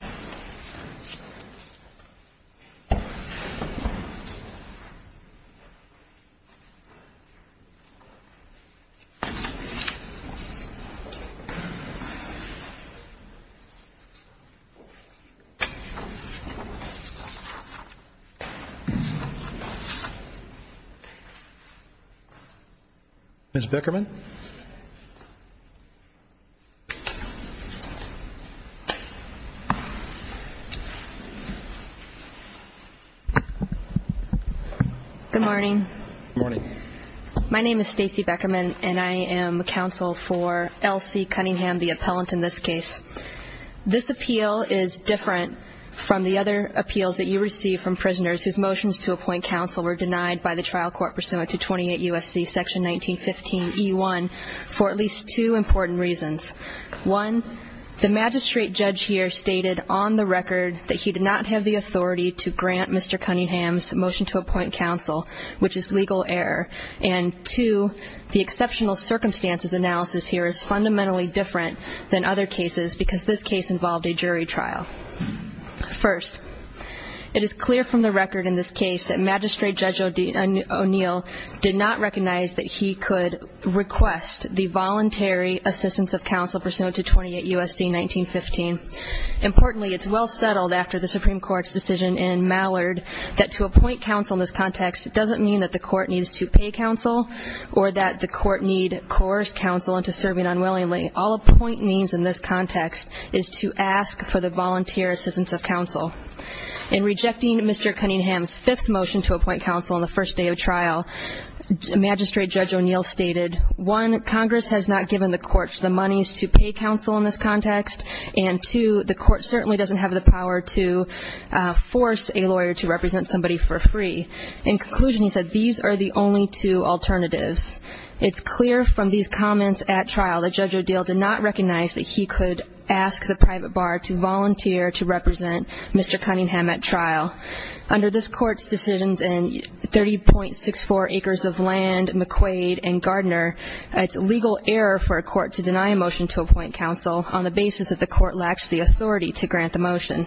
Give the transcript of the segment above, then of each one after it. v. Bloxom Good morning. My name is Stacey Beckerman and I am counsel for L.C. Cunningham, the appellant in this case. This appeal is different from the other appeals that you received from prisoners whose motions to appoint counsel were denied by the trial court pursuant to 28 U.S.C. section 1915E1 for at least two important reasons. One, the magistrate judge here stated on the record that he did not have the authority to grant Mr. Cunningham's motion to appoint counsel, which is legal error. And two, the exceptional circumstances analysis here is fundamentally different than other cases because this case involved a jury trial. First, it is clear from the record in this case that Magistrate Judge O'Neill did not recognize that he could request the voluntary assistance of counsel pursuant to 28 U.S.C. section 1915E1. Importantly, it is well settled after the Supreme Court's decision in Mallard that to appoint counsel in this context does not mean that the court needs to pay counsel or that the court need coerce counsel into serving unwillingly. All a point means in this context is to ask for the volunteer assistance of counsel. In rejecting Mr. Cunningham's fifth motion to appoint counsel on the first day of trial, Magistrate Judge O'Neill stated, one, Congress has not given the court the monies to pay counsel in this context, and two, the court certainly doesn't have the power to force a lawyer to represent somebody for free. In conclusion, he said, these are the only two alternatives. It's clear from these comments at trial that Judge O'Neill did not recognize that he could ask the private bar to volunteer to represent Mr. Cunningham at trial. Under this Court's decisions in 30.64 acres of land, McQuaid and Gardner, it's legal error for a court to deny a motion to appoint counsel on the basis that the court lacks the authority to grant the motion.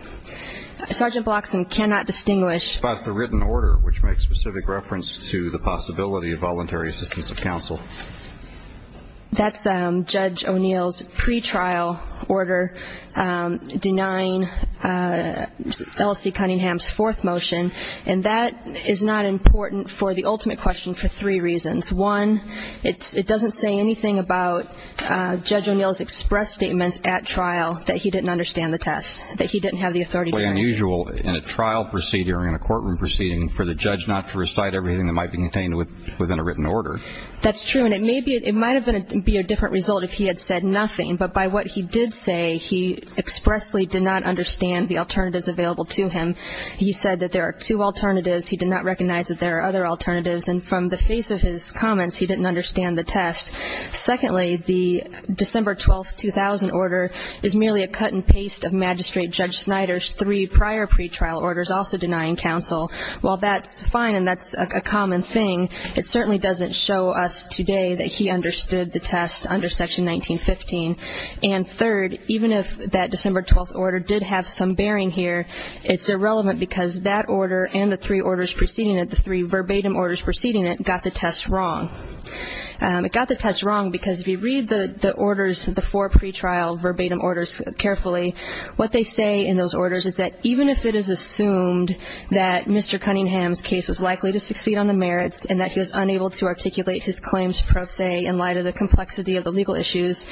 Sergeant Bloxam cannot distinguish But the written order, which makes specific reference to the possibility of voluntary assistance of counsel. That's Judge O'Neill's pretrial order denying L.C. Cunningham's fourth motion, and that is not important for the ultimate question for three reasons. One, it doesn't say anything about Judge O'Neill's express statements at trial that he didn't understand the test, that he didn't have the authority. It's quite unusual in a trial proceeding or in a courtroom proceeding for the judge not to recite everything that might be contained within a written order. That's true, and it might have been a different result if he had said nothing, but by what he did say, he expressly did not understand the alternatives available to him. He said that there are two alternatives. He did not recognize that there are other comments. He didn't understand the test. Secondly, the December 12, 2000 order is merely a cut and paste of Magistrate Judge Snyder's three prior pretrial orders also denying counsel. While that's fine and that's a common thing, it certainly doesn't show us today that he understood the test under Section 1915. And third, even if that December 12 order did have some bearing here, it's irrelevant because that order and the three orders preceding it, the three verbatim orders preceding it, got the test wrong. It got the test wrong because if you read the orders, the four pretrial verbatim orders carefully, what they say in those orders is that even if it is assumed that Mr. Cunningham's case was likely to succeed on the merits and that he was unable to articulate his claims pro se in light of the complexity of the legal issues,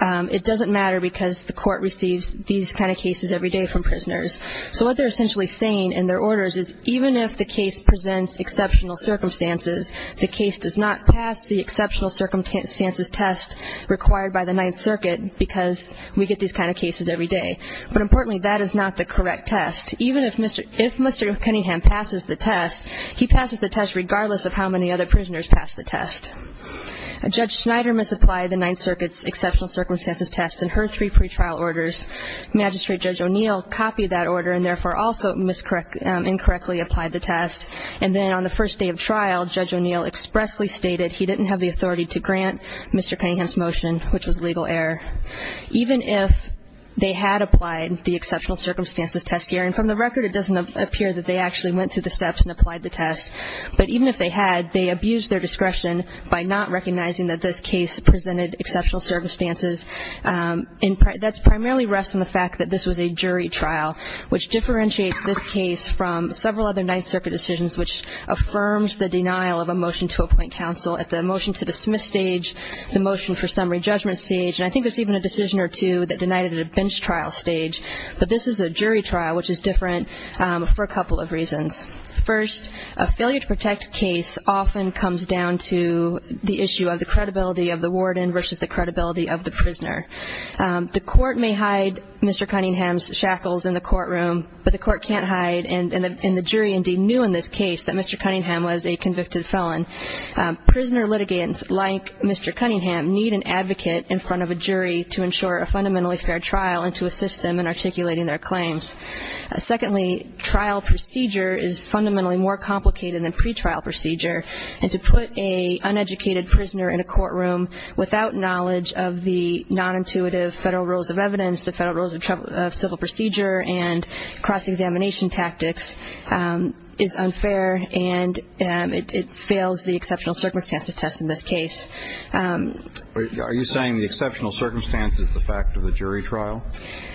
it doesn't matter because the court receives these kind of cases every day from prisoners. So what they're essentially saying in their orders is even if the case presents exceptional circumstances, the case does not pass the exceptional circumstances test required by the Ninth Circuit because we get these kind of cases every day. But importantly, that is not the correct test. Even if Mr. Cunningham passes the test, he passes the test regardless of how many other prisoners pass the test. Judge Snyder misapplied the Ninth Circuit's exceptional circumstances test in her three pretrial orders. Magistrate Judge O'Neill copied that order and therefore also incorrectly applied the test. And then on the first day of trial, Judge O'Neill expressly stated he didn't have the authority to grant Mr. Cunningham's motion, which was legal error. Even if they had applied the exceptional circumstances test here, and from the record, it doesn't appear that they actually went through the steps and applied the test, but even if they had, they abused their discretion by not recognizing that this case presented exceptional circumstances. That primarily rests on the fact that this was a jury trial, which differentiates this case from several other Ninth Circuit decisions which affirms the denial of a motion to appoint counsel at the motion to dismiss stage, the motion for summary judgment stage, and I think there's even a decision or two that denied it at a bench trial stage. But this was a jury trial, which is different for a couple of reasons. First, a failure to protect case often comes down to the issue of the credibility of the warden versus the credibility of the prisoner. The court may hide Mr. Cunningham's shackles in the courtroom, but the court can't hide, and the jury indeed knew in this case that Mr. Cunningham was a convicted felon. Prisoner litigants like Mr. Cunningham need an advocate in front of a jury to ensure a fundamentally fair trial and to assist them in articulating their claims. Secondly, trial procedure is fundamentally more complicated than pretrial procedure, and to put an uneducated prisoner in a courtroom without knowledge of the nonintuitive federal rules of evidence, the federal rules of civil procedure, and cross-examination tactics is unfair, and it fails the exceptional circumstances test in this case. Are you saying the exceptional circumstances is the fact of the jury trial?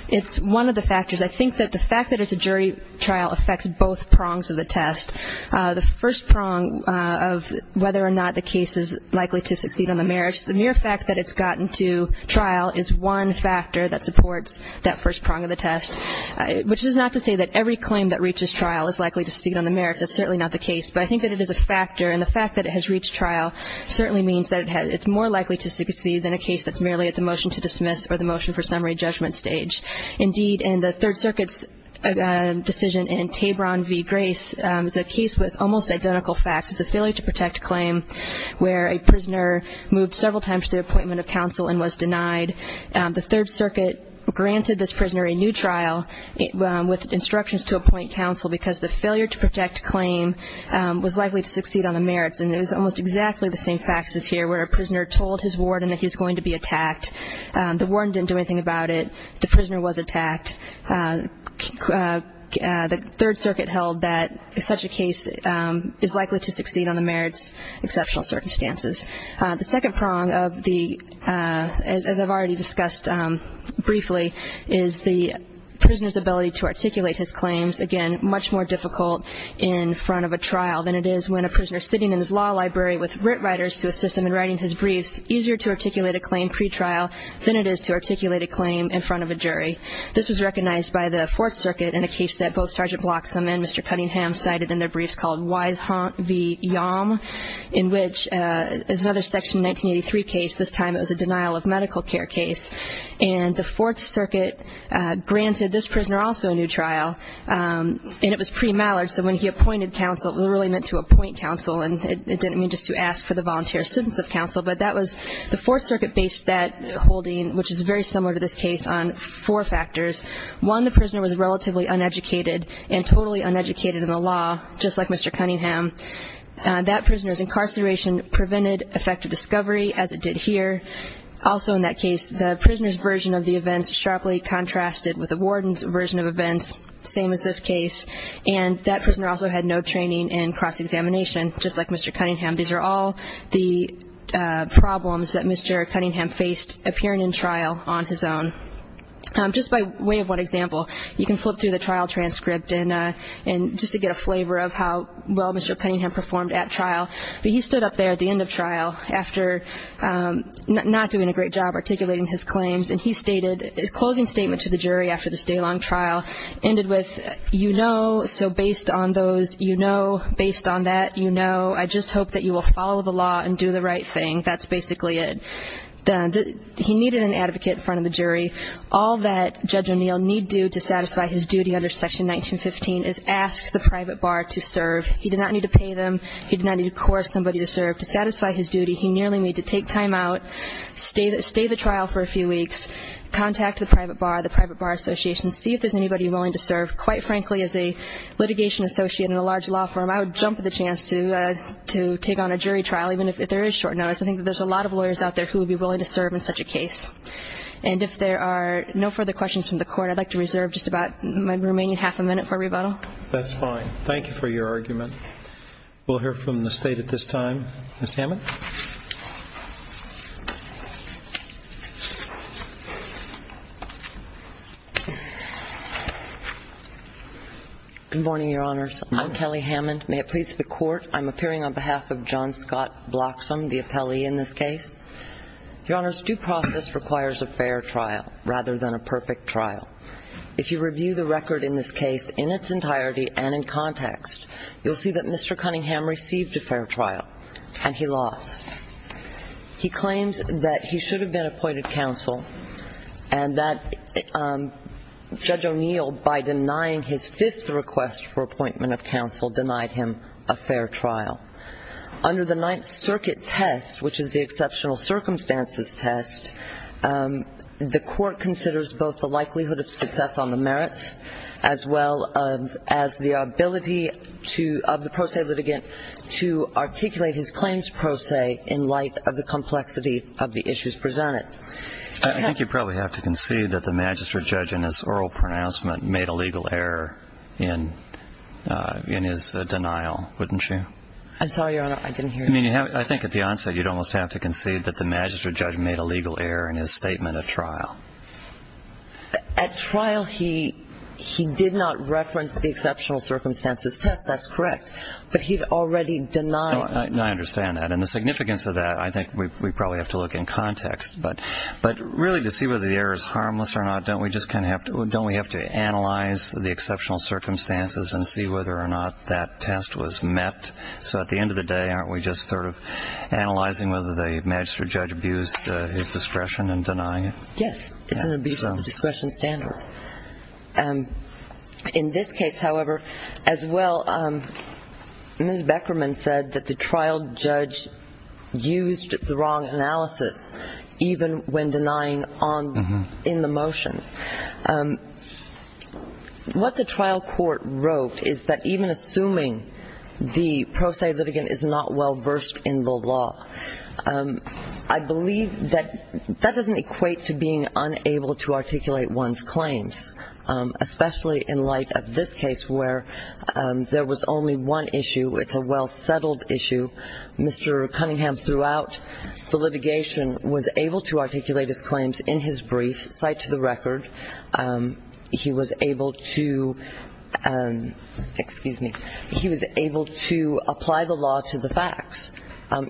It's one of the factors. I think that the fact that it's a jury trial affects both prongs of the test. The first prong of whether or not the case is likely to succeed on the merits, the mere fact that it's gotten to trial is one factor that supports that first prong, which is not to say that every claim that reaches trial is likely to succeed on the merits. That's certainly not the case. But I think that it is a factor, and the fact that it has reached trial certainly means that it's more likely to succeed than a case that's merely at the motion to dismiss or the motion for summary judgment stage. Indeed, in the Third Circuit's decision in Tabron v. Grace, it's a case with almost identical facts. It's a failure to protect claim where a prisoner moved several times to the appointment of counsel and was denied. The Third Circuit granted this prisoner a new trial with instructions to appoint counsel because the failure to protect claim was likely to succeed on the merits. And it was almost exactly the same facts as here where a prisoner told his warden that he was going to be attacked. The warden didn't do anything about it. The prisoner was attacked. The Third Circuit held that such a case is likely to succeed on the merits, exceptional circumstances. The second prong of the, as I've already discussed briefly, is the prisoner's ability to articulate his claims, again, much more difficult in front of a trial than it is when a prisoner sitting in his law library with writ writers to assist him in writing his briefs, easier to articulate a claim pretrial than it is to articulate a claim in front of a jury. This was recognized by the Fourth Circuit in a case that both Sgt. Bloxham and Mr. Cunningham cited in their briefs called Wisehaunt v. Cunningham, which is another Section 1983 case. This time it was a denial-of-medical-care case. And the Fourth Circuit granted this prisoner also a new trial. And it was pre-Mallard, so when he appointed counsel, it really meant to appoint counsel and it didn't mean just to ask for the volunteer assistance of counsel. But that was, the Fourth Circuit based that holding, which is very similar to this case, on four factors. One, the prisoner was relatively uneducated and totally uneducated in the law, just like Mr. Cunningham. That prisoner's incarceration prevented effective discovery, as it did here. Also in that case, the prisoner's version of the events sharply contrasted with the warden's version of events, same as this case. And that prisoner also had no training in cross-examination, just like Mr. Cunningham. These are all the problems that Mr. Cunningham faced appearing in trial on his own. Just by way of one example, you can flip through the trial transcript, just to get a flavor of how well Mr. Cunningham performed at trial. But he stood up there at the end of trial, after not doing a great job articulating his claims, and he stated his closing statement to the jury after this day-long trial ended with, you know, so based on those, you know, based on that, you know. I just hope that you will follow the law and do the right thing. That's basically it. He needed an advocate in front of the jury. All that Judge O'Neill need do to satisfy his duty under Section 1915 is ask the private bar to serve. He did not need to pay them. He did not need a corps of somebody to serve. To satisfy his duty, he merely need to take time out, stay the trial for a few weeks, contact the private bar, the private bar association, see if there's anybody willing to serve. Quite frankly, as a litigation associate in a large law firm, I would jump at the chance to take on a jury trial, even if there is short notice. I think that there's a lot of lawyers out there who would be willing to serve in such a case. And if there are no further questions from the Court, I'd like to reserve just about my remaining half a minute for rebuttal. That's fine. Thank you for your argument. We'll hear from the State at this time. Ms. Hammond. Good morning, Your Honors. I'm Kelly Hammond. May it please the Court, I'm appearing on behalf of John Scott Bloxam, the appellee in this case. Your Honors, due process requires a fair trial rather than a perfect trial. If you review the record in this case in its entirety and in context, you'll see that Mr. Cunningham received a fair trial and he lost. He claims that he should have been appointed counsel and that Judge O'Neill, by denying his fifth request for appointment of counsel, denied him a fair trial. Under the Ninth Circuit test, which is the exceptional circumstances test, the Court considers both the likelihood of success on the merits as well as the ability of the pro se litigant to articulate his claims pro se in light of the complexity of the issues presented. I think you probably have to concede that the magistrate judge in his oral I'm sorry, Your Honor, I didn't hear you. I mean, I think at the onset you'd almost have to concede that the magistrate judge made a legal error in his statement at trial. At trial, he did not reference the exceptional circumstances test. That's correct. But he'd already denied it. I understand that. And the significance of that, I think we probably have to look in context. But really to see whether the error is harmless or not, don't we have to analyze the exceptional circumstances and see whether or not that test was met? So at the end of the day, aren't we just sort of analyzing whether the magistrate judge abused his discretion in denying it? Yes. It's an abuse of the discretion standard. In this case, however, as well, Ms. Beckerman said that the trial judge used the wrong analysis, even when denying in the motions. What the trial court wrote is that even assuming the pro se litigant is not well versed in the law, I believe that that doesn't equate to being unable to articulate one's claims, especially in light of this case where there was only one issue. It's a well-settled issue. Mr. Cunningham, throughout the litigation, was able to articulate his claims in his brief, cite to the record. He was able to apply the law to the facts.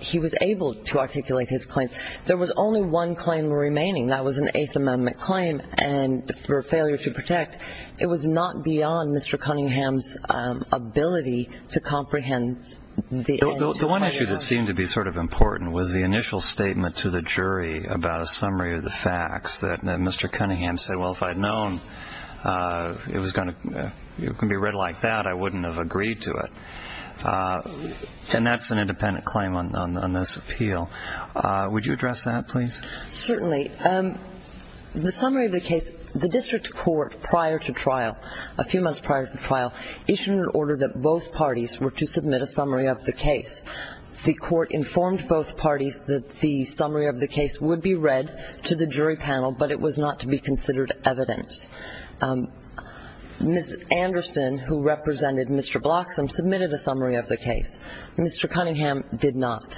He was able to articulate his claims. There was only one claim remaining. That was an Eighth Amendment claim for failure to protect. It was not beyond Mr. Cunningham's ability to comprehend the end. The one issue that seemed to be sort of important was the initial statement to the jury about a summary of the facts that Mr. Cunningham said, well, if I had known it was going to be read like that, I wouldn't have agreed to it. And that's an independent claim on this appeal. Would you address that, please? Certainly. The summary of the case, the district court, prior to trial, a few months prior to trial, issued an order that both parties were to submit a summary of the case. The court informed both parties that the summary of the case would be read to the jury panel, but it was not to be considered evidence. Ms. Anderson, who represented Mr. Bloxham, submitted a summary of the case. Mr. Cunningham did not.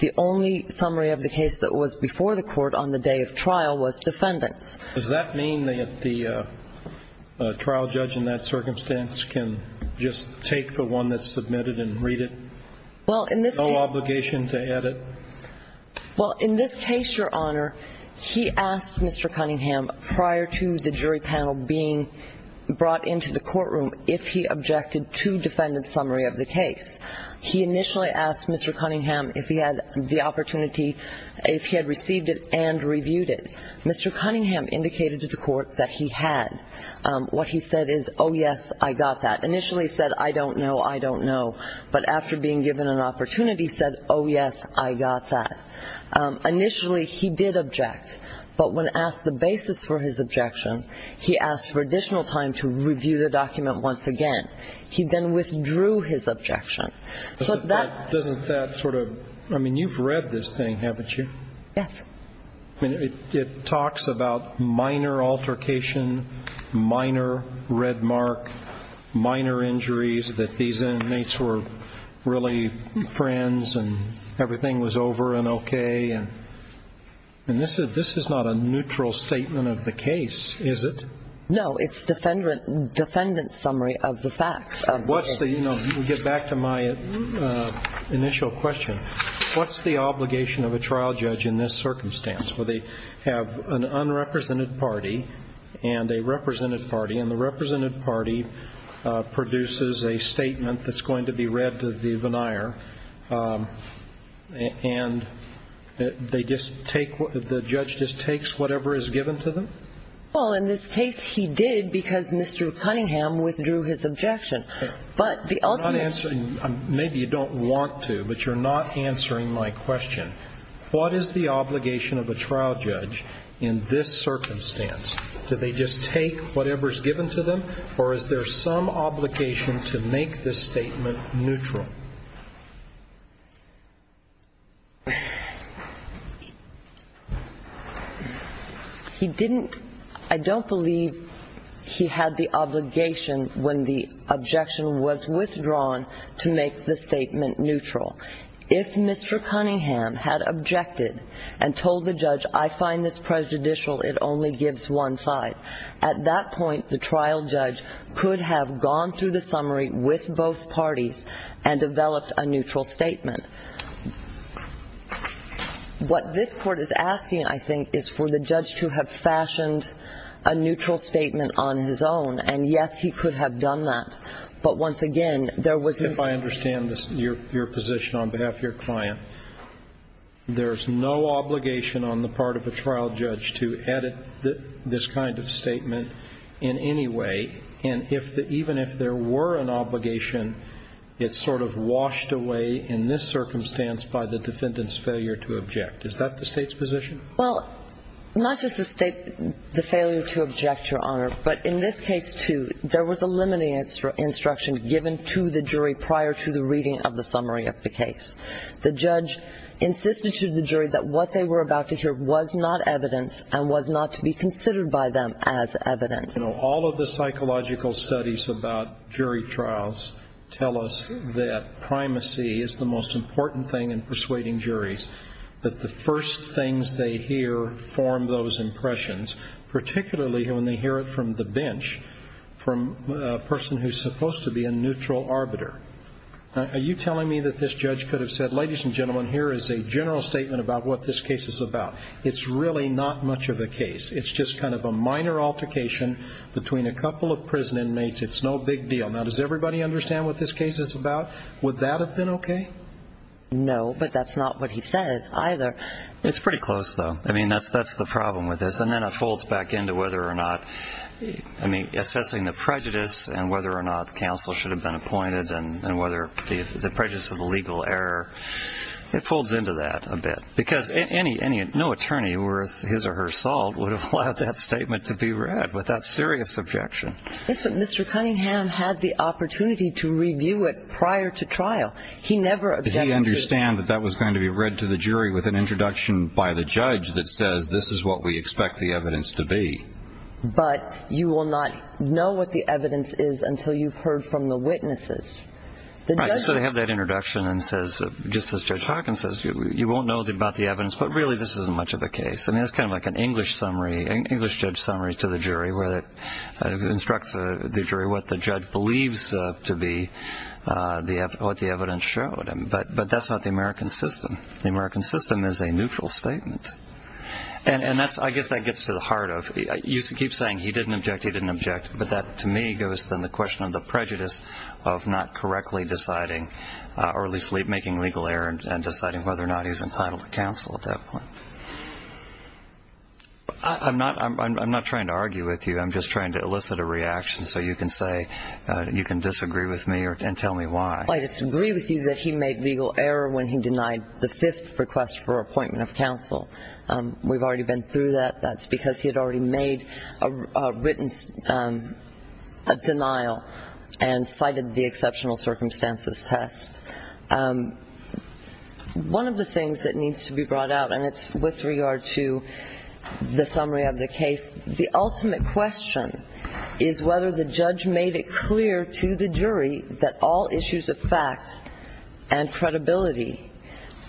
The only summary of the case that was before the court on the day of trial was defendants. Does that mean that the trial judge in that circumstance can just take the one that's submitted and read it? No obligation to edit. Well, in this case, Your Honor, he asked Mr. Cunningham prior to the jury panel being brought into the courtroom if he objected to defendant's summary of the case. He initially asked Mr. Cunningham if he had the opportunity, if he had received it and reviewed it. Mr. Cunningham indicated to the court that he had. What he said is, oh, yes, I got that. Initially he said, I don't know, I don't know. But after being given an opportunity, he said, oh, yes, I got that. Initially he did object, but when asked the basis for his objection, he asked for additional time to review the document once again. He then withdrew his objection. Doesn't that sort of – I mean, you've read this thing, haven't you? Yes. It talks about minor altercation, minor red mark, minor injuries, that these inmates were really friends and everything was over and okay. And this is not a neutral statement of the case, is it? No, it's defendant's summary of the facts of the case. So what's the – you know, to get back to my initial question, what's the obligation of a trial judge in this circumstance, where they have an unrepresented party and a represented party, and the represented party produces a statement that's going to be read to the venire, and they just take – the judge just takes whatever is given to them? Well, in this case he did because Mr. Cunningham withdrew his objection. But the ultimate – You're not answering – maybe you don't want to, but you're not answering my question. What is the obligation of a trial judge in this circumstance? Do they just take whatever is given to them, or is there some obligation to make this statement neutral? He didn't – I don't believe he had the obligation when the objection was withdrawn to make the statement neutral. If Mr. Cunningham had objected and told the judge, I find this prejudicial, it only gives one side, at that point the trial judge could have gone through the summary with both parties and developed a neutral statement. What this Court is asking, I think, is for the judge to have fashioned a neutral statement on his own, and yes, he could have done that. But once again, there was – If I understand your position on behalf of your client, there's no obligation on the part of a trial judge to edit this kind of statement in any way, and even if there were an obligation, it's sort of washed away in this circumstance by the defendant's failure to object. Is that the State's position? Well, not just the State – the failure to object, Your Honor, but in this case, too, there was a limiting instruction given to the jury prior to the reading of the summary of the case. The judge insisted to the jury that what they were about to hear was not evidence and was not to be considered by them as evidence. You know, all of the psychological studies about jury trials tell us that primacy is the most important thing in persuading juries, that the first things they hear form those impressions, particularly when they hear it from the bench, from a person who's supposed to be a neutral arbiter. Are you telling me that this judge could have said, Ladies and gentlemen, here is a general statement about what this case is about. It's really not much of a case. It's just kind of a minor altercation between a couple of prison inmates. It's no big deal. Now, does everybody understand what this case is about? Would that have been okay? No, but that's not what he said either. It's pretty close, though. I mean, that's the problem with this. And then it folds back into whether or not – I mean, assessing the prejudice and whether or not counsel should have been appointed and whether the prejudice of the legal error – it folds into that a bit. Because no attorney worth his or her salt would have allowed that statement to be read with that serious objection. Yes, but Mr. Cunningham had the opportunity to review it prior to trial. He never objected. He understood that that was going to be read to the jury with an introduction by the judge that says this is what we expect the evidence to be. But you will not know what the evidence is until you've heard from the witnesses. Right. So they have that introduction and says, just as Judge Hawkins says, you won't know about the evidence, but really this isn't much of a case. I mean, it's kind of like an English judge summary to the jury where it instructs the jury what the judge believes to be what the evidence showed. But that's not the American system. The American system is a neutral statement. And I guess that gets to the heart of it. You keep saying he didn't object, he didn't object, but that to me goes to the question of the prejudice of not correctly deciding or at least making legal error in deciding whether or not he's entitled to counsel at that point. I'm not trying to argue with you. I'm just trying to elicit a reaction so you can say you can disagree with me and tell me why. I disagree with you that he made legal error when he denied the fifth request for appointment of counsel. We've already been through that. That's because he had already made a written denial and cited the exceptional circumstances test. One of the things that needs to be brought out, and it's with regard to the summary of the case, the ultimate question is whether the judge made it clear to the jury that all issues of fact and credibility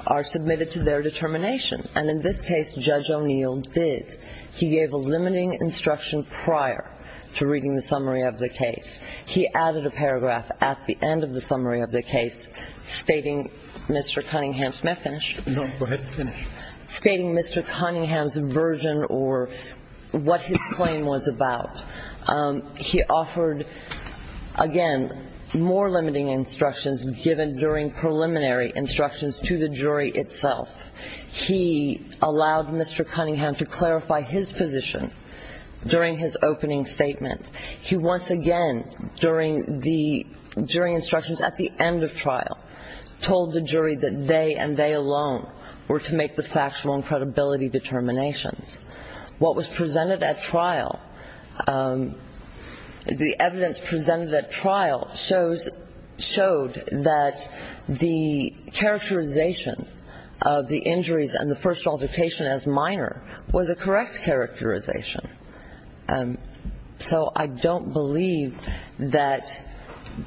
are submitted to their determination. And in this case, Judge O'Neill did. He gave a limiting instruction prior to reading the summary of the case. He added a paragraph at the end of the summary of the case stating Mr. Cunningham's version or what his claim was about. He offered, again, more limiting instructions given during preliminary instructions to the jury itself. He allowed Mr. Cunningham to clarify his position during his opening statement. He once again, during the jury instructions at the end of trial, told the jury that they and they alone were to make the factual and credibility determinations. What was presented at trial, the evidence presented at trial, showed that the characterization of the injuries and the first altercation as minor was a correct characterization. So I don't believe that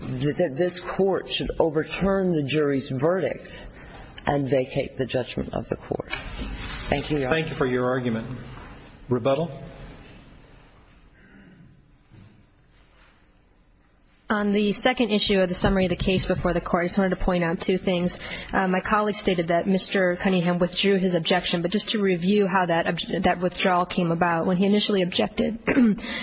this Court should overturn the jury's verdict and vacate the judgment of the Court. Thank you, Your Honor. Rebuttal? On the second issue of the summary of the case before the Court, I just wanted to point out two things. My colleague stated that Mr. Cunningham withdrew his objection, but just to review how that withdrawal came about, when he initially objected,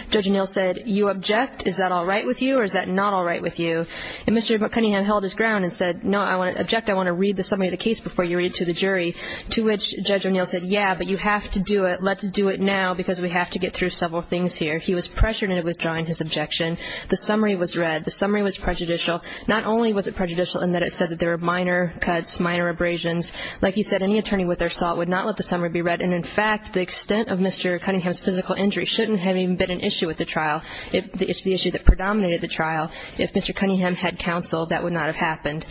Judge O'Neill said, you object, is that all right with you or is that not all right with you? And Mr. Cunningham held his ground and said, no, I want to object, I want to read the summary of the case before you read it to the jury, to which Judge O'Neill said, yeah, but you have to do it, let's do it now because we have to get through several things here. He was pressured into withdrawing his objection. The summary was read. The summary was prejudicial. Not only was it prejudicial in that it said that there were minor cuts, minor abrasions. Like you said, any attorney with their assault would not let the summary be read. And, in fact, the extent of Mr. Cunningham's physical injury shouldn't have even been an issue at the trial. It's the issue that predominated the trial. If Mr. Cunningham had counsel, that would not have happened.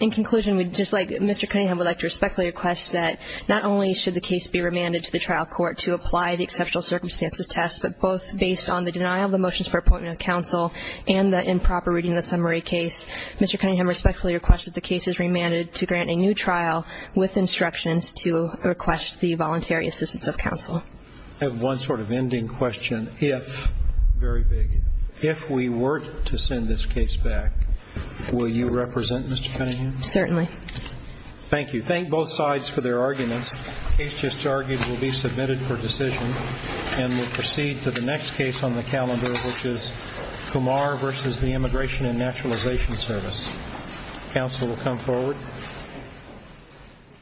In conclusion, Mr. Cunningham would like to respectfully request that not only should the case be remanded to the trial court to apply the exceptional circumstances test, but both based on the denial of the motions for appointment of counsel and the improper reading of the summary case, Mr. Cunningham respectfully requests that the case is remanded to grant a new trial with instructions to request the voluntary assistance of counsel. I have one sort of ending question. Very big. If we were to send this case back, will you represent Mr. Cunningham? Certainly. Thank you. Thank both sides for their arguments. The case just argued will be submitted for decision and will proceed to the next case on the calendar, which is Kumar v. The Immigration and Naturalization Service. Counsel will come forward.